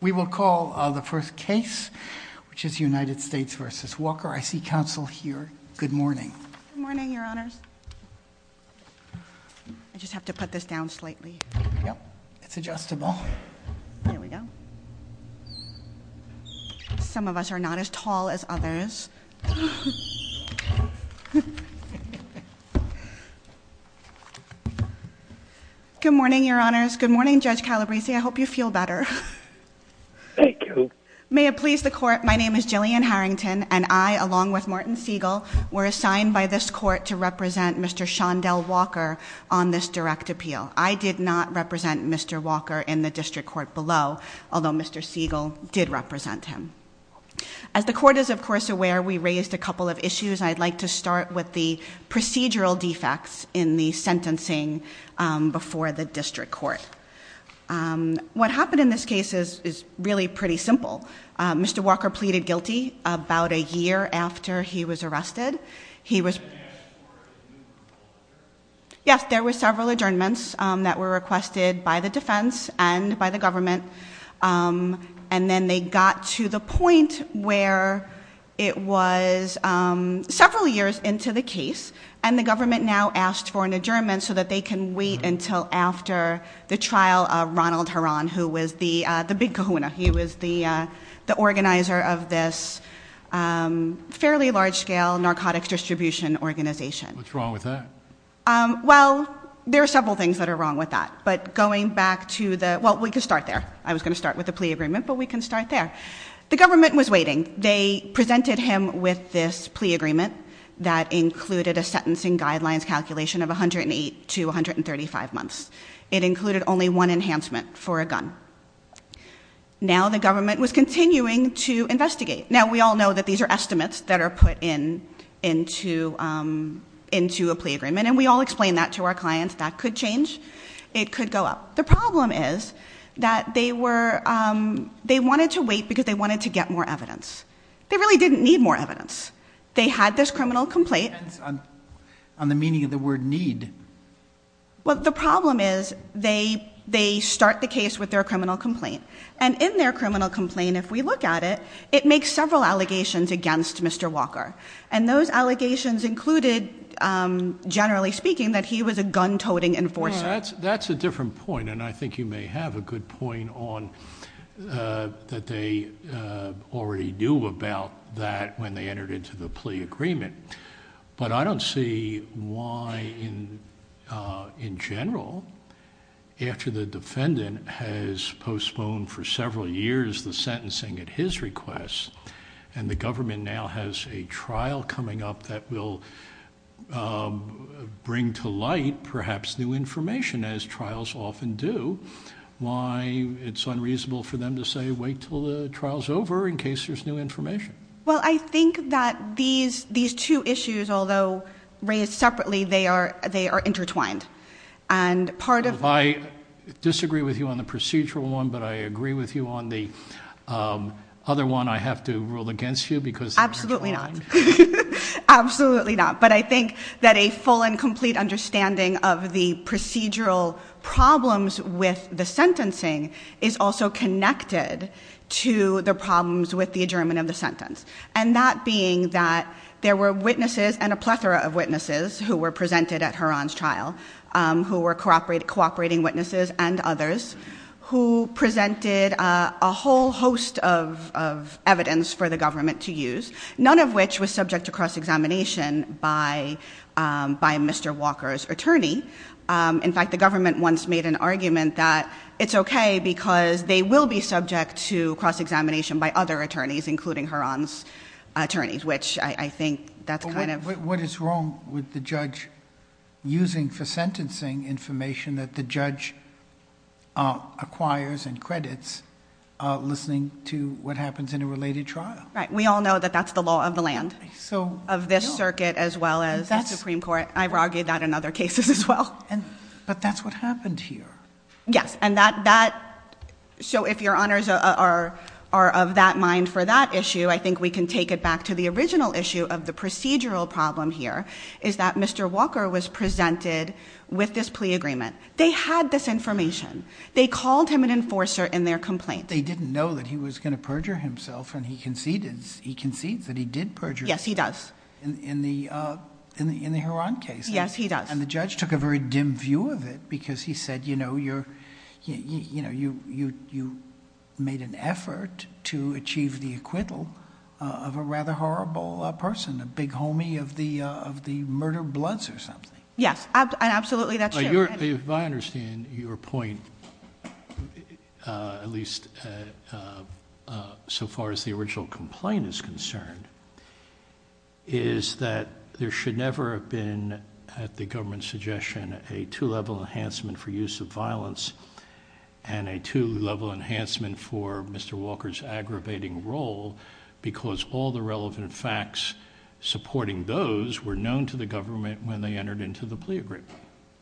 We will call the first case, which is United States v. Walker. I see counsel here. Good morning. Good morning, your honors. I just have to put this down slightly. Yep, it's adjustable. There we go. Some of us are not as tall as others. Good morning, your honors. Good morning, Judge Calabrese. I hope you feel better. Thank you. May it please the court, my name is Jillian Harrington, and I, along with Martin Siegel, were assigned by this court to represent Mr. Shondell Walker on this direct appeal. I did not represent Mr. Walker in the district court below, although Mr. Siegel did represent him. As the court is, of course, aware, we raised a couple of issues. I'd like to start with the procedural defects in the sentencing before the district court. What happened in this case is really pretty simple. Mr. Walker pleaded guilty about a year after he was arrested. Yes, there were several adjournments that were requested by the defense and by the government, and then they got to the point where it was several years into the case, and the government now asked for an adjournment so that they can wait until after the trial of Ronald Herran, who was the big kahuna. He was the organizer of this fairly large-scale narcotics distribution organization. What's wrong with that? Well, there are several things that are wrong with that, but going back to the—well, we can start there. I was going to start with the plea agreement, but we can start there. The government was waiting. They presented him with this plea agreement that included a sentencing guidelines calculation of 108 to 135 months. It included only one enhancement for a gun. Now the government was continuing to investigate. Now, we all know that these are estimates that are put into a plea agreement, and we all explain that to our clients. That could change. It could go up. The problem is that they wanted to wait because they wanted to get more evidence. They really didn't need more evidence. They had this criminal complaint. It depends on the meaning of the word need. Well, the problem is they start the case with their criminal complaint, and in their criminal complaint, if we look at it, it makes several allegations against Mr. Walker, and those allegations included, generally speaking, that he was a gun-toting enforcer. That's a different point, and I think you may have a good point on that they already knew about that when they entered into the plea agreement, but I don't see why in general, after the defendant has postponed for several years the sentencing at his request, and the government now has a trial coming up that will bring to light, perhaps, new information, as trials often do, why it's unreasonable for them to say, wait till the trial's over in case there's new information. Well, I think that these two issues, although raised separately, they are intertwined, and part of- I disagree with you on the procedural one, but I agree with you on the other one. I have to rule against you because- I think that a full and complete understanding of the procedural problems with the sentencing is also connected to the problems with the adjournment of the sentence, and that being that there were witnesses, and a plethora of witnesses, who were presented at Heron's trial, who were cooperating witnesses and others, who presented a whole host of evidence for the by Mr. Walker's attorney. In fact, the government once made an argument that it's okay because they will be subject to cross-examination by other attorneys, including Heron's attorneys, which I think that's kind of- What is wrong with the judge using for sentencing information that the judge acquires and credits listening to what happens in a related trial? Right. We all know that's the law of the land of this circuit as well as the Supreme Court. I've argued that in other cases as well. But that's what happened here. Yes, and that- so if your honors are of that mind for that issue, I think we can take it back to the original issue of the procedural problem here, is that Mr. Walker was presented with this plea agreement. They had this information. They called him an enforcer in their complaint. They didn't know that he was going to perjure himself and he concedes that he did perjure. Yes, he does. In the Heron case. Yes, he does. And the judge took a very dim view of it because he said, you know, you made an effort to achieve the acquittal of a rather horrible person, a big homie of the murder bloods or if I understand your point, at least so far as the original complaint is concerned, is that there should never have been at the government's suggestion a two-level enhancement for use of violence and a two-level enhancement for Mr. Walker's aggravating role because all the relevant facts supporting those were known to the government when they entered into the plea agreement.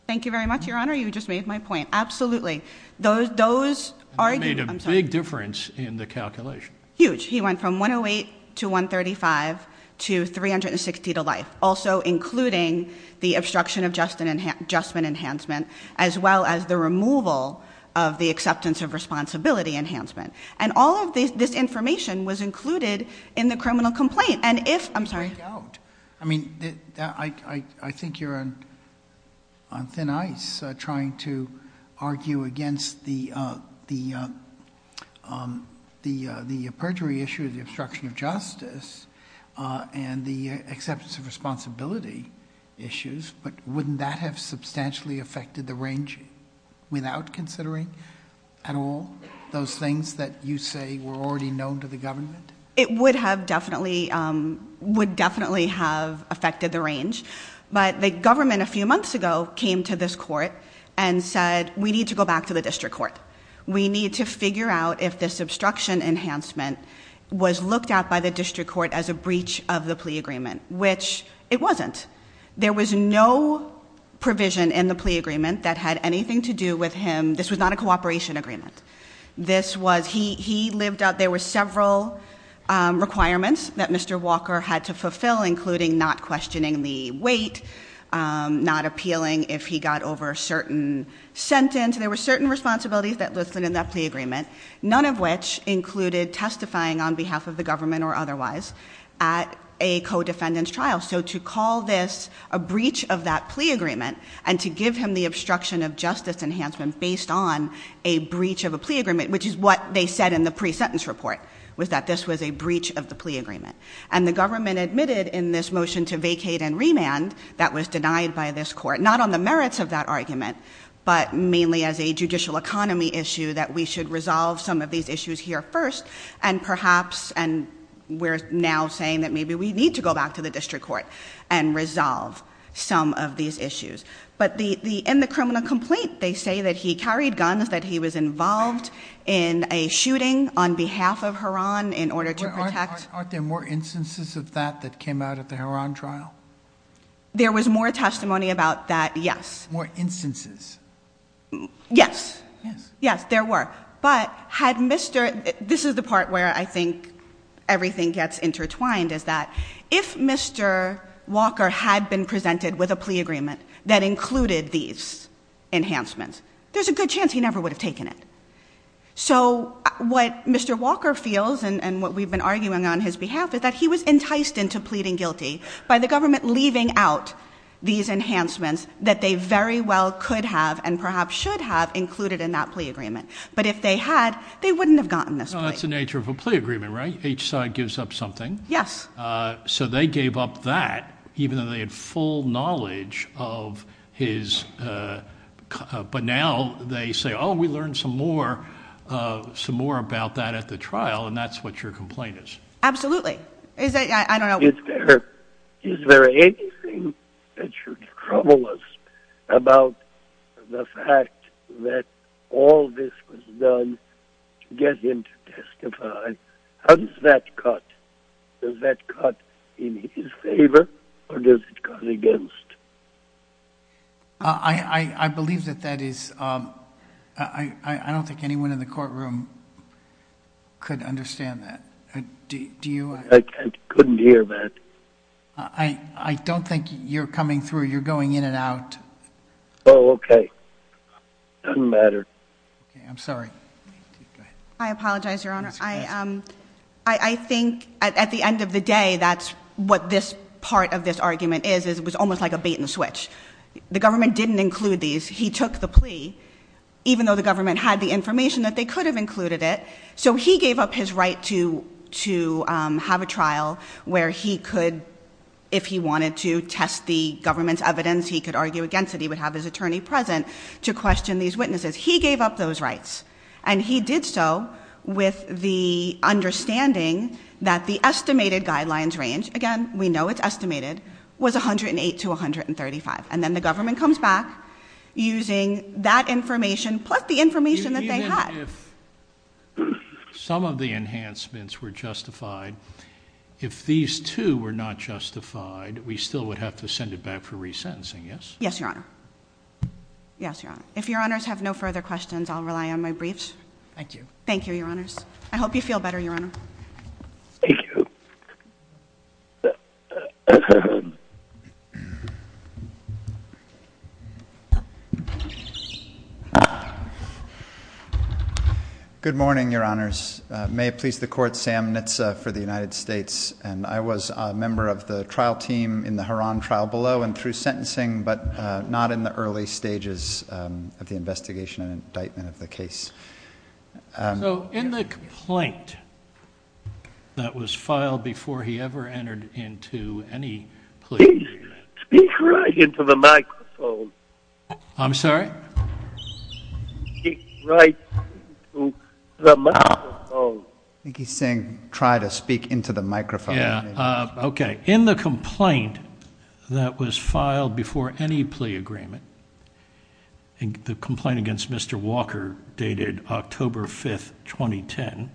Thank you very much, your honor. You just made my point. Absolutely. Those, those made a big difference in the calculation. Huge. He went from 108 to 135 to 360 to life. Also including the obstruction of just and adjustment enhancement, as well as the removal of the acceptance of responsibility enhancement. And all of this, this information was included in the on thin ice, uh, trying to argue against the, uh, the, um, the, uh, the perjury issue of the obstruction of justice, uh, and the acceptance of responsibility issues. But wouldn't that have substantially affected the range without considering at all, those things that you say were already known to the government? It would have definitely, um, would definitely have affected the range. I mean, a few months ago, came to this court and said, we need to go back to the district court. We need to figure out if this obstruction enhancement was looked at by the district court as a breach of the plea agreement, which it wasn't. There was no provision in the plea agreement that had anything to do with him. This was not a cooperation agreement. This was, he, he lived out, there were several, um, requirements that Mr. Walker had to fulfill, including not questioning the weight, um, not appealing if he got over a certain sentence. There were certain responsibilities that listed in that plea agreement, none of which included testifying on behalf of the government or otherwise at a co-defendant's trial. So to call this a breach of that plea agreement and to give him the obstruction of justice enhancement based on a breach of a plea agreement, which is what they said in the pre-sentence report was that this was breach of the plea agreement. And the government admitted in this motion to vacate and remand that was denied by this court, not on the merits of that argument, but mainly as a judicial economy issue that we should resolve some of these issues here first. And perhaps, and we're now saying that maybe we need to go back to the district court and resolve some of these issues. But the, the, in the criminal complaint, they say that he carried guns, that he was involved in a shooting on behalf of Huron in order to protect. Aren't there more instances of that that came out at the Huron trial? There was more testimony about that. Yes. More instances. Yes. Yes, there were. But had Mr. this is the part where I think everything gets intertwined is that if Mr. Walker had been presented with a plea agreement that included these enhancements, there's a good chance he Mr. Walker feels and what we've been arguing on his behalf is that he was enticed into pleading guilty by the government, leaving out these enhancements that they very well could have and perhaps should have included in that plea agreement. But if they had, they wouldn't have gotten this. That's the nature of a plea agreement, right? Each side gives up something. Yes. So they gave up that even though they had full knowledge of his. But now they say, oh, we learned some more, uh, some more about that at the trial. And that's what your complaint is. Absolutely. Is that I don't know. Is there anything that should trouble us about the fact that all this was done to get him to testify? How does that cut? Does that cut in his favor or does it come against? I believe that that is, um, I don't think anyone in the courtroom could understand that. Do you? I couldn't hear that. I don't think you're coming through. You're going in and out. Oh, okay. Doesn't matter. I'm sorry. I apologize, Your Honor. I, um, I think at the end of the day, that's what this part of this argument is, is it was almost like a bait and switch. The government didn't include these. He took the plea, even though the government had the information that they could have included it. So he gave up his right to, to, um, have a trial where he could, if he wanted to test the government's evidence, he could argue against it. He would have his attorney present to question these witnesses. He gave up those rights and he did so with the understanding that the estimated guidelines range again, we know it's estimated was 108 to 135. And then the government comes back using that information. Plus the information that they had. Some of the enhancements were justified. If these two were not justified, we still would have to send it back for resentencing. Yes. Yes, Your Honor. Yes, Your Honor. If Your Honors have no further questions, I'll rely on my briefs. Thank you. Thank you, Your Honors. I hope you feel better, Your Honor. Thank you. Good morning, Your Honors. May it please the court, Sam Nitze for the United States. And I was a member of the trial team in the Harran trial below and through sentencing, but not in the early stages of the investigation and indictment of the case. So in the complaint that was filed before he ever entered into any plea. Please speak right into the microphone. I'm sorry? Speak right into the microphone. I think he's saying try to speak into the microphone. Yeah. Okay. In the complaint that was filed before any plea agreement, I think the complaint against Mr. Walker dated October 5th, 2010.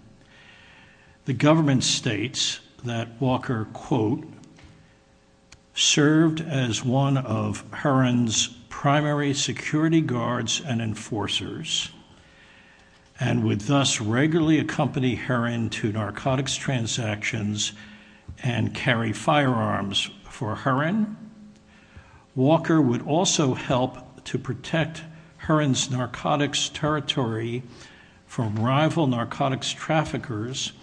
The government states that Walker, quote, served as one of Harran's primary security guards and enforcers and would thus regularly accompany Harran to narcotics transactions and carry firearms for Harran. Walker would also help to protect Harran's narcotics territory from rival narcotics traffickers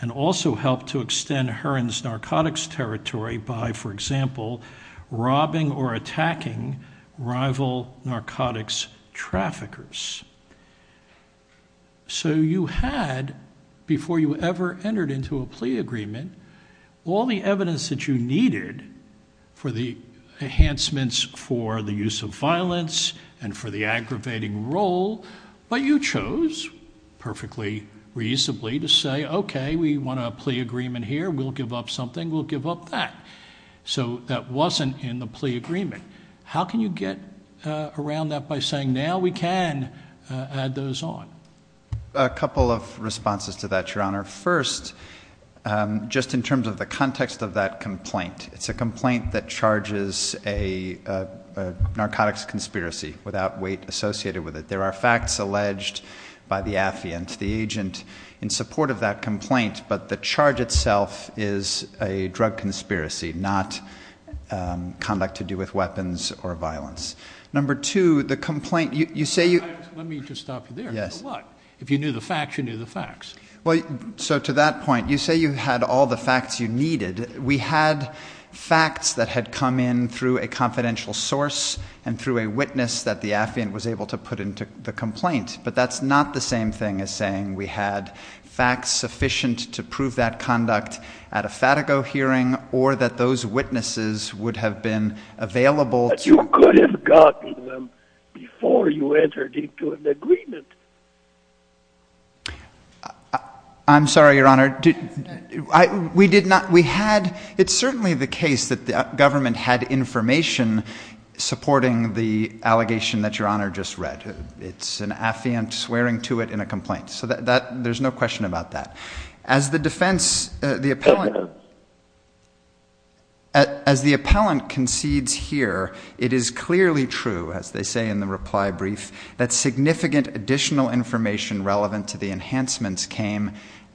and also help to extend Harran's narcotics territory by, for example, robbing or attacking rival narcotics traffickers. So you had, before you ever entered into a plea agreement, all the evidence that you needed for the enhancements for the use of violence and for the aggravating role, but you chose perfectly reasonably to say, okay, we want a plea agreement here. We'll give up something. We'll give up that. So that wasn't in the plea agreement. How can you get around that by saying, now we can add those on? A couple of responses to that, Your Honor. First, just in terms of the context of that complaint, it's a complaint that charges a narcotics conspiracy without weight associated with it. There are facts alleged by the affiant, the agent in support of that complaint, but the charge itself is a drug conspiracy, not conduct to do with weapons or violence. Number two, the complaint, you say you... Let me just stop you there. Yes. If you knew the facts, you knew the facts. Well, so to that point, you say you had all the facts you needed. We had facts that had come in through a confidential source and through a witness that the affiant was able to put into the complaint, but that's not the same thing as saying we had facts sufficient to prove that conduct at a Fatigo hearing or that those witnesses would have been available... But you could have gotten them before you entered into an agreement. I'm sorry, Your Honor. We did not... We had... It's certainly the case that the government had information supporting the allegation that Your Honor just read. It's an affiant swearing to it in a complaint. So there's no question about that. As the defense, the appellant... As the appellant concedes here, it is clearly true, as they say in the reply brief, that significant additional information relevant to the enhancements came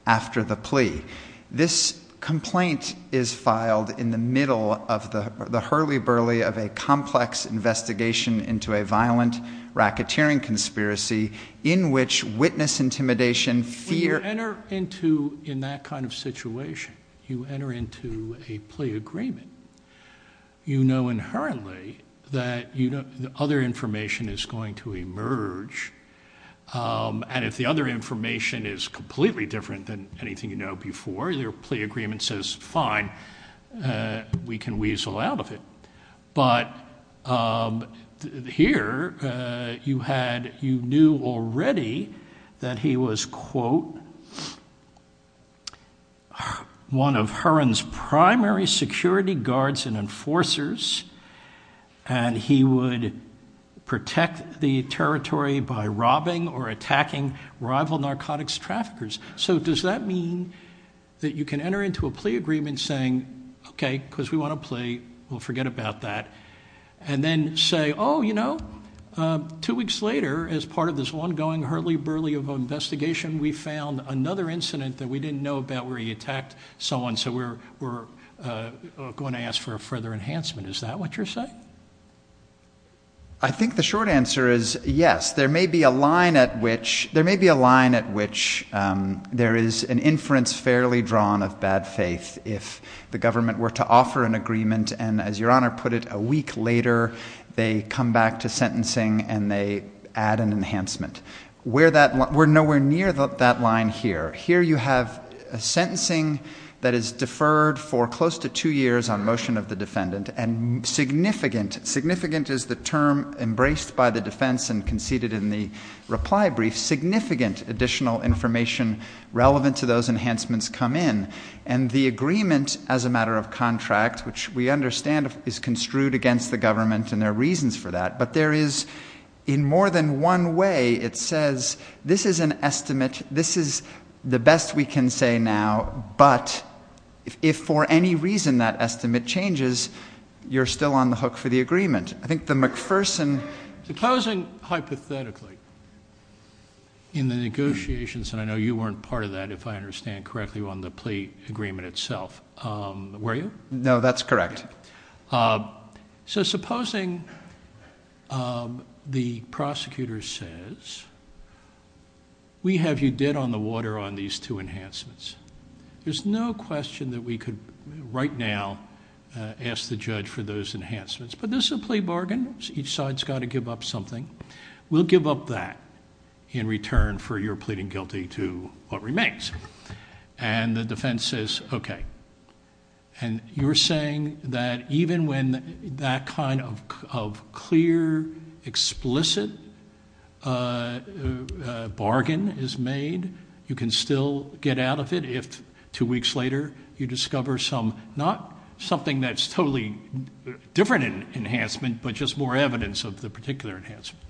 after the plea. This complaint is filed in the middle of the hurly-burly of a complex investigation into a violent racketeering conspiracy in which witness intimidation fear... When you enter into, in that kind of situation, you enter into a plea agreement, you know inherently that the other information is going to emerge. And if the other information is completely different than anything you know before, your plea agreement says, fine, we can weasel out of it. But here, you knew already that he was, quote, one of Heron's primary security guards and enforcers, and he would protect the territory by robbing or attacking rival narcotics traffickers. So does that mean that you can enter into a plea agreement saying, okay, because we want to play, we'll forget about that, and then say, oh, you know, two weeks later, as part of this ongoing hurly-burly of an investigation, we found another incident that we didn't know about where he attacked someone, so we're going to ask for a further enhancement. Is that what you're saying? I think the short answer is yes. There may be a line at which there is an inference fairly drawn of bad faith if the government were to offer an agreement, and as your honor put it, a week later, they come back to sentencing and they add an enhancement. We're nowhere near that line here. Here you have a sentencing that is deferred for close to two years on motion of the defendant, and significant, significant is the term embraced by the defense and conceded in the reply brief, significant additional information relevant to those enhancements come in. The agreement as a matter of contract, which we understand is construed against the government and there are reasons for that, but there is, in more than one way, it says, this is an estimate, this is the best we can say now, but if for any reason that estimate changes, you're still on the hook for the agreement. I think the McPherson... Closing hypothetically in the negotiations, and I know you weren't part of that, if I understand correctly, on the plea agreement itself, were you? No, that's correct. Supposing the prosecutor says, we have you dead on the water on these two enhancements. There's no question that we could right now ask the judge for those enhancements, but this is a plea bargain. Each side's got to give up something. We'll give up that in return for your pleading guilty to what remains. The defense says, okay. You're saying that even when that kind of clear, explicit bargain is made, you can still get out of it if two weeks later you discover some, not something that's totally different in enhancement, but just more evidence of the particular enhancement.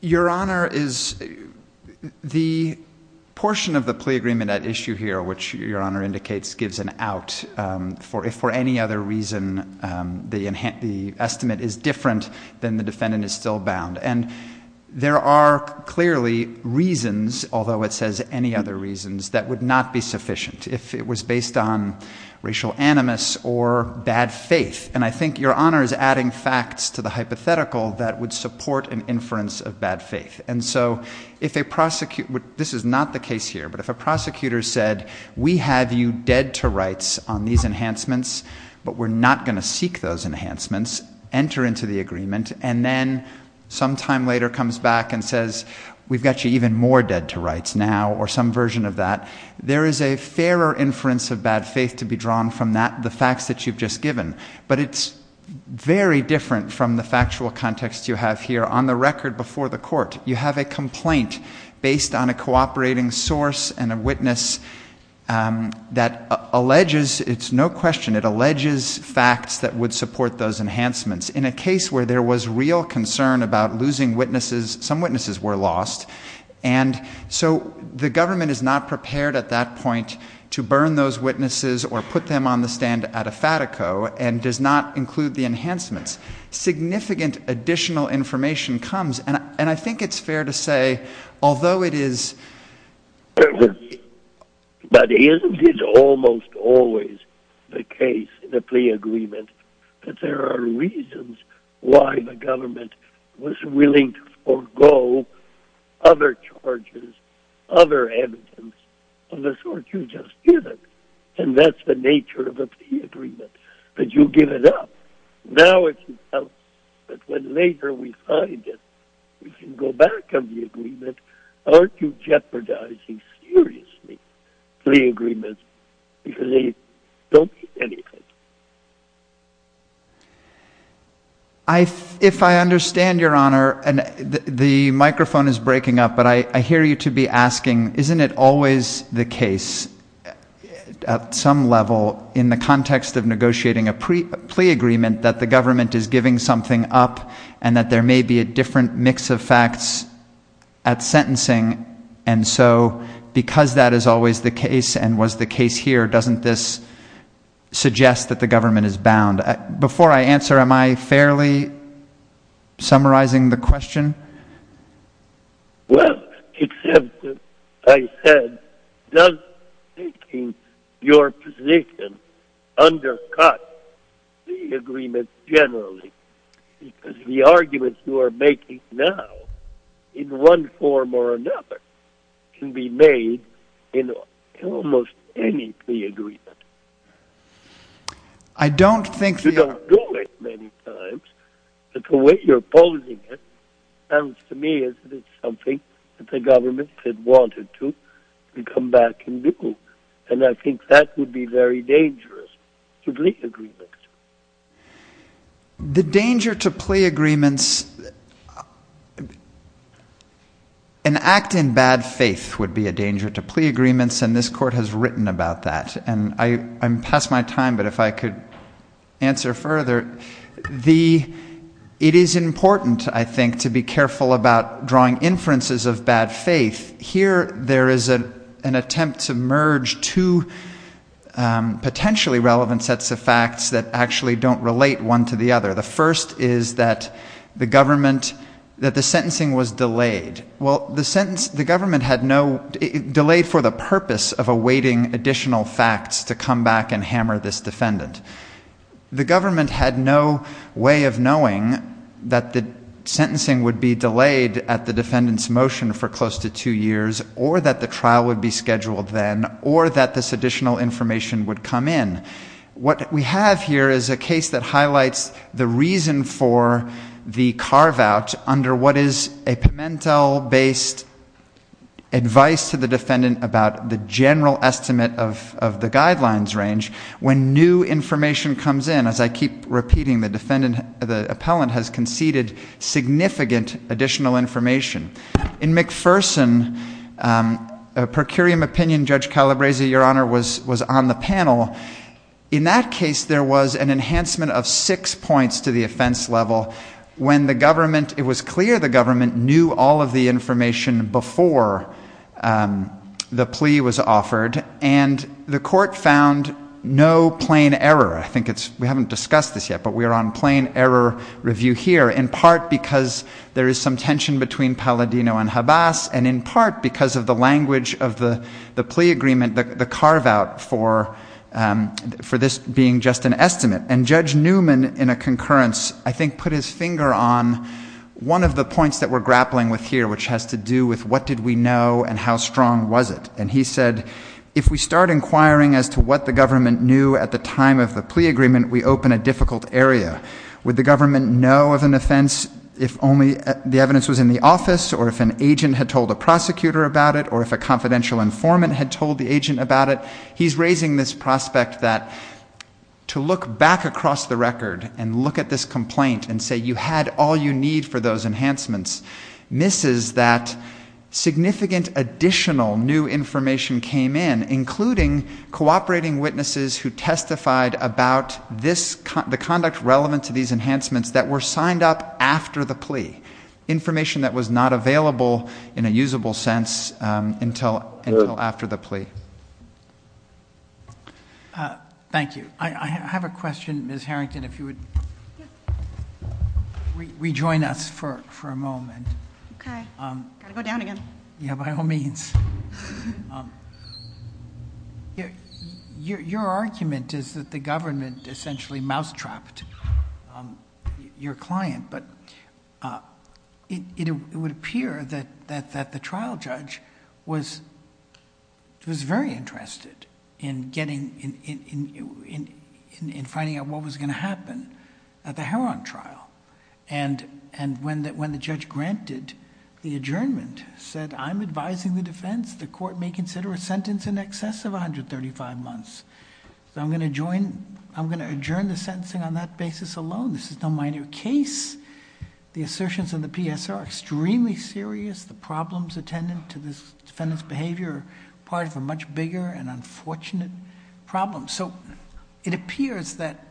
Your Honor, the portion of the plea agreement at issue here, which your Honor indicates gives an out, if for any other reason the estimate is different than the defendant is still bound. There are clearly reasons, although it says any other reasons, that would not be sufficient if it was based on racial animus or bad faith. I think your that would support an inference of bad faith. This is not the case here, but if a prosecutor said, we have you dead to rights on these enhancements, but we're not going to seek those enhancements, enter into the agreement, and then sometime later comes back and says, we've got you even more dead to rights now or some version of that, there is a fairer inference of bad faith to be drawn from the facts that you've just given. But it's very different from the factual context you have here on the record before the court. You have a complaint based on a cooperating source and a witness that alleges, it's no question, it alleges facts that would support those enhancements. In a case where there was real concern about losing witnesses, some witnesses were lost, and so the government is not prepared at that point to burn those witnesses or put them on the stand at a fatico and does not include the enhancements. Significant additional information comes, and I think it's fair to say, although it is... But isn't it almost always the case in a plea other evidence of the sort you've just given, and that's the nature of a plea agreement, that you give it up. Now it's... But when later we find it, we can go back on the agreement. Aren't you jeopardizing, seriously, plea agreements? Because they don't mean anything. If I understand your honor, and the microphone is breaking up, but I hear you to be asking, isn't it always the case at some level in the context of negotiating a plea agreement that the government is giving something up, and that there may be a different mix of facts at sentencing, and so because that is always the case, and was the case here, doesn't this suggest that the government is bound? Before I answer, am I fairly summarizing the question? Well, except that I said, does taking your position undercut the agreement generally? Because the arguments you are making now, in one form or another, can be made in almost any plea agreement. You don't do it many times, but the way you're posing it sounds to me as if it's something that the government had wanted to come back and do, and I think that would be very dangerous to plea agreements. The danger to plea agreements... An act in bad faith would be a danger to plea agreements, and this court has written about that, and I'm past my time, but if I could answer further. It is important, I think, to be careful about drawing inferences of bad faith. Here, there is an attempt to merge two potentially relevant sets of facts that actually don't relate one to the other. The first is that the government, that the sentencing was delayed. Well, the sentence, the government had no... Delayed for the purpose of awaiting additional facts to come back and hammer this defendant. The government had no way of knowing that the sentencing would be delayed at the defendant's motion for close to two years, or that the trial would be scheduled then, or that this additional under what is a Pimentel-based advice to the defendant about the general estimate of the guidelines range. When new information comes in, as I keep repeating, the defendant, the appellant has conceded significant additional information. In McPherson, a per curiam opinion, Judge Calabresi, Your Honor, was on the panel. In that case, there was an enhancement of six points to the offense level. When the government, it was clear the government knew all of the information before the plea was offered, and the court found no plain error. I think it's, we haven't discussed this yet, but we are on plain error review here, in part because there is some tension between Palladino and Habas, and in part because of the language of the plea agreement, the carve out for this being just an estimate. And Judge Newman, in a concurrence, I think put his finger on one of the points that we're grappling with here, which has to do with what did we know and how strong was it? And he said, if we start inquiring as to what the government knew at the time of the plea agreement, we open a difficult area. Would the government know of an offense if only the evidence was in the office, or if an agent had told a prosecutor about it, or if a confidential informant had told the agent about it? He's raising this prospect that to look back across the record and look at this complaint and say you had all you need for those enhancements, misses that significant additional new information came in, including cooperating witnesses who testified about this, the conduct relevant to these enhancements that were signed up after the plea. Information that was not available in a usable sense until after the plea. Thank you. I have a question, Ms. Harrington, if you would rejoin us for a moment. Okay. Got to go down again. Yeah, by all means. Your argument is that the government essentially mousetrapped your client, but it would appear that the trial judge was very interested in finding out what was going to happen at the Heron trial. When the judge granted the adjournment, said I'm advising the defense, the court may consider a sentence in excess of 135 months. I'm going to adjourn the sentencing on that basis alone. This is no minor case. The assertions in the PSR are extremely serious. The problems attendant to this defendant's behavior are part of a much bigger and unfortunate problem. So it appears that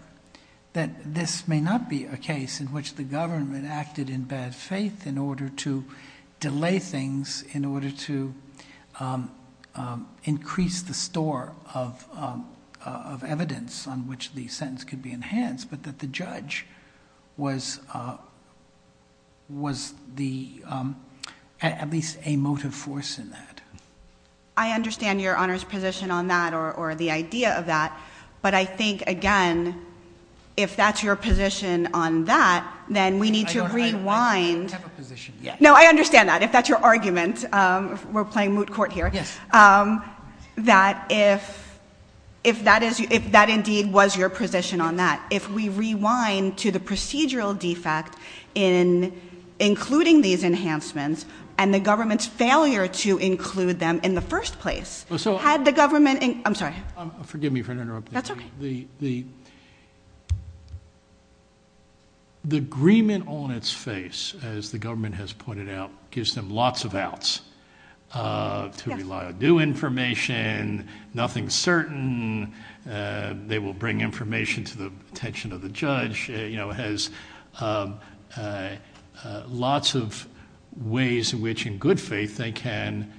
this may not be a case in which the government acted in bad faith in order to delay things, in order to increase the store of evidence on which the case was being enhanced, but that the judge was at least a motive force in that. I understand your Honor's position on that or the idea of that, but I think again, if that's your position on that, then we need to rewind. I don't have a position yet. No, I understand that. If that's your argument, we're playing moot court here. Yes. That if that indeed was your position on that, if we rewind to the procedural defect in including these enhancements and the government's failure to include them in the first place, had the government... I'm sorry. Forgive me for interrupting. That's okay. The agreement on its face, as the government has pointed out, gives them lots of outs to rely on new information, nothing certain. They will bring information to the attention of the judge, has lots of ways in which in good faith they can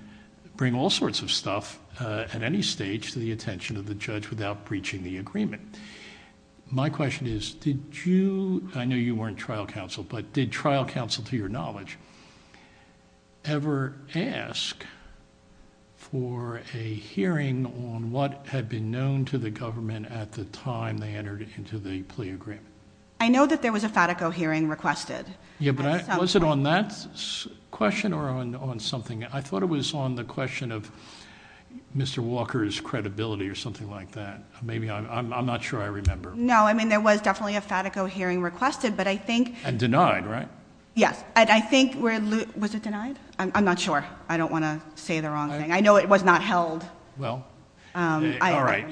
bring all sorts of stuff at any stage to the attention of the judge without breaching the agreement. My question is, did you... I know you weren't trial counsel, but did trial counsel to your ask for a hearing on what had been known to the government at the time they entered into the plea agreement? I know that there was a Fatico hearing requested. Yeah, but was it on that question or on something? I thought it was on the question of Mr. Walker's credibility or something like that. Maybe I'm not sure I remember. No, I mean, there was definitely a Fatico hearing requested, but I think... And denied, right? Yes. And I think we're... Was it denied? I'm not sure. I don't want to say the wrong thing. I know it was not held. Well, all right.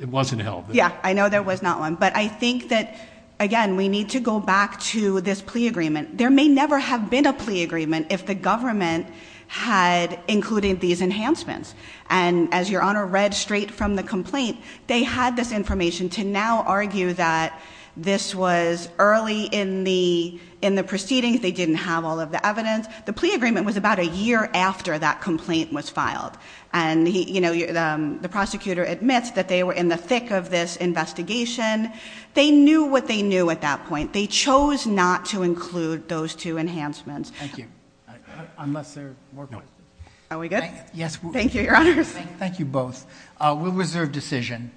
It wasn't held. Yeah. I know there was not one, but I think that, again, we need to go back to this plea agreement. There may never have been a plea agreement if the government had included these enhancements. And as your honor read straight from the complaint, they had this information to now argue that this was early in the proceedings. They didn't have all of the evidence. The plea agreement was about a year after that complaint was filed. And the prosecutor admits that they were in the thick of this investigation. They knew what they knew at that point. They chose not to include those two enhancements. Thank you. Unless there are more questions. Are we good? Yes. Thank you, your honors. Thank you both. We'll reserve decision.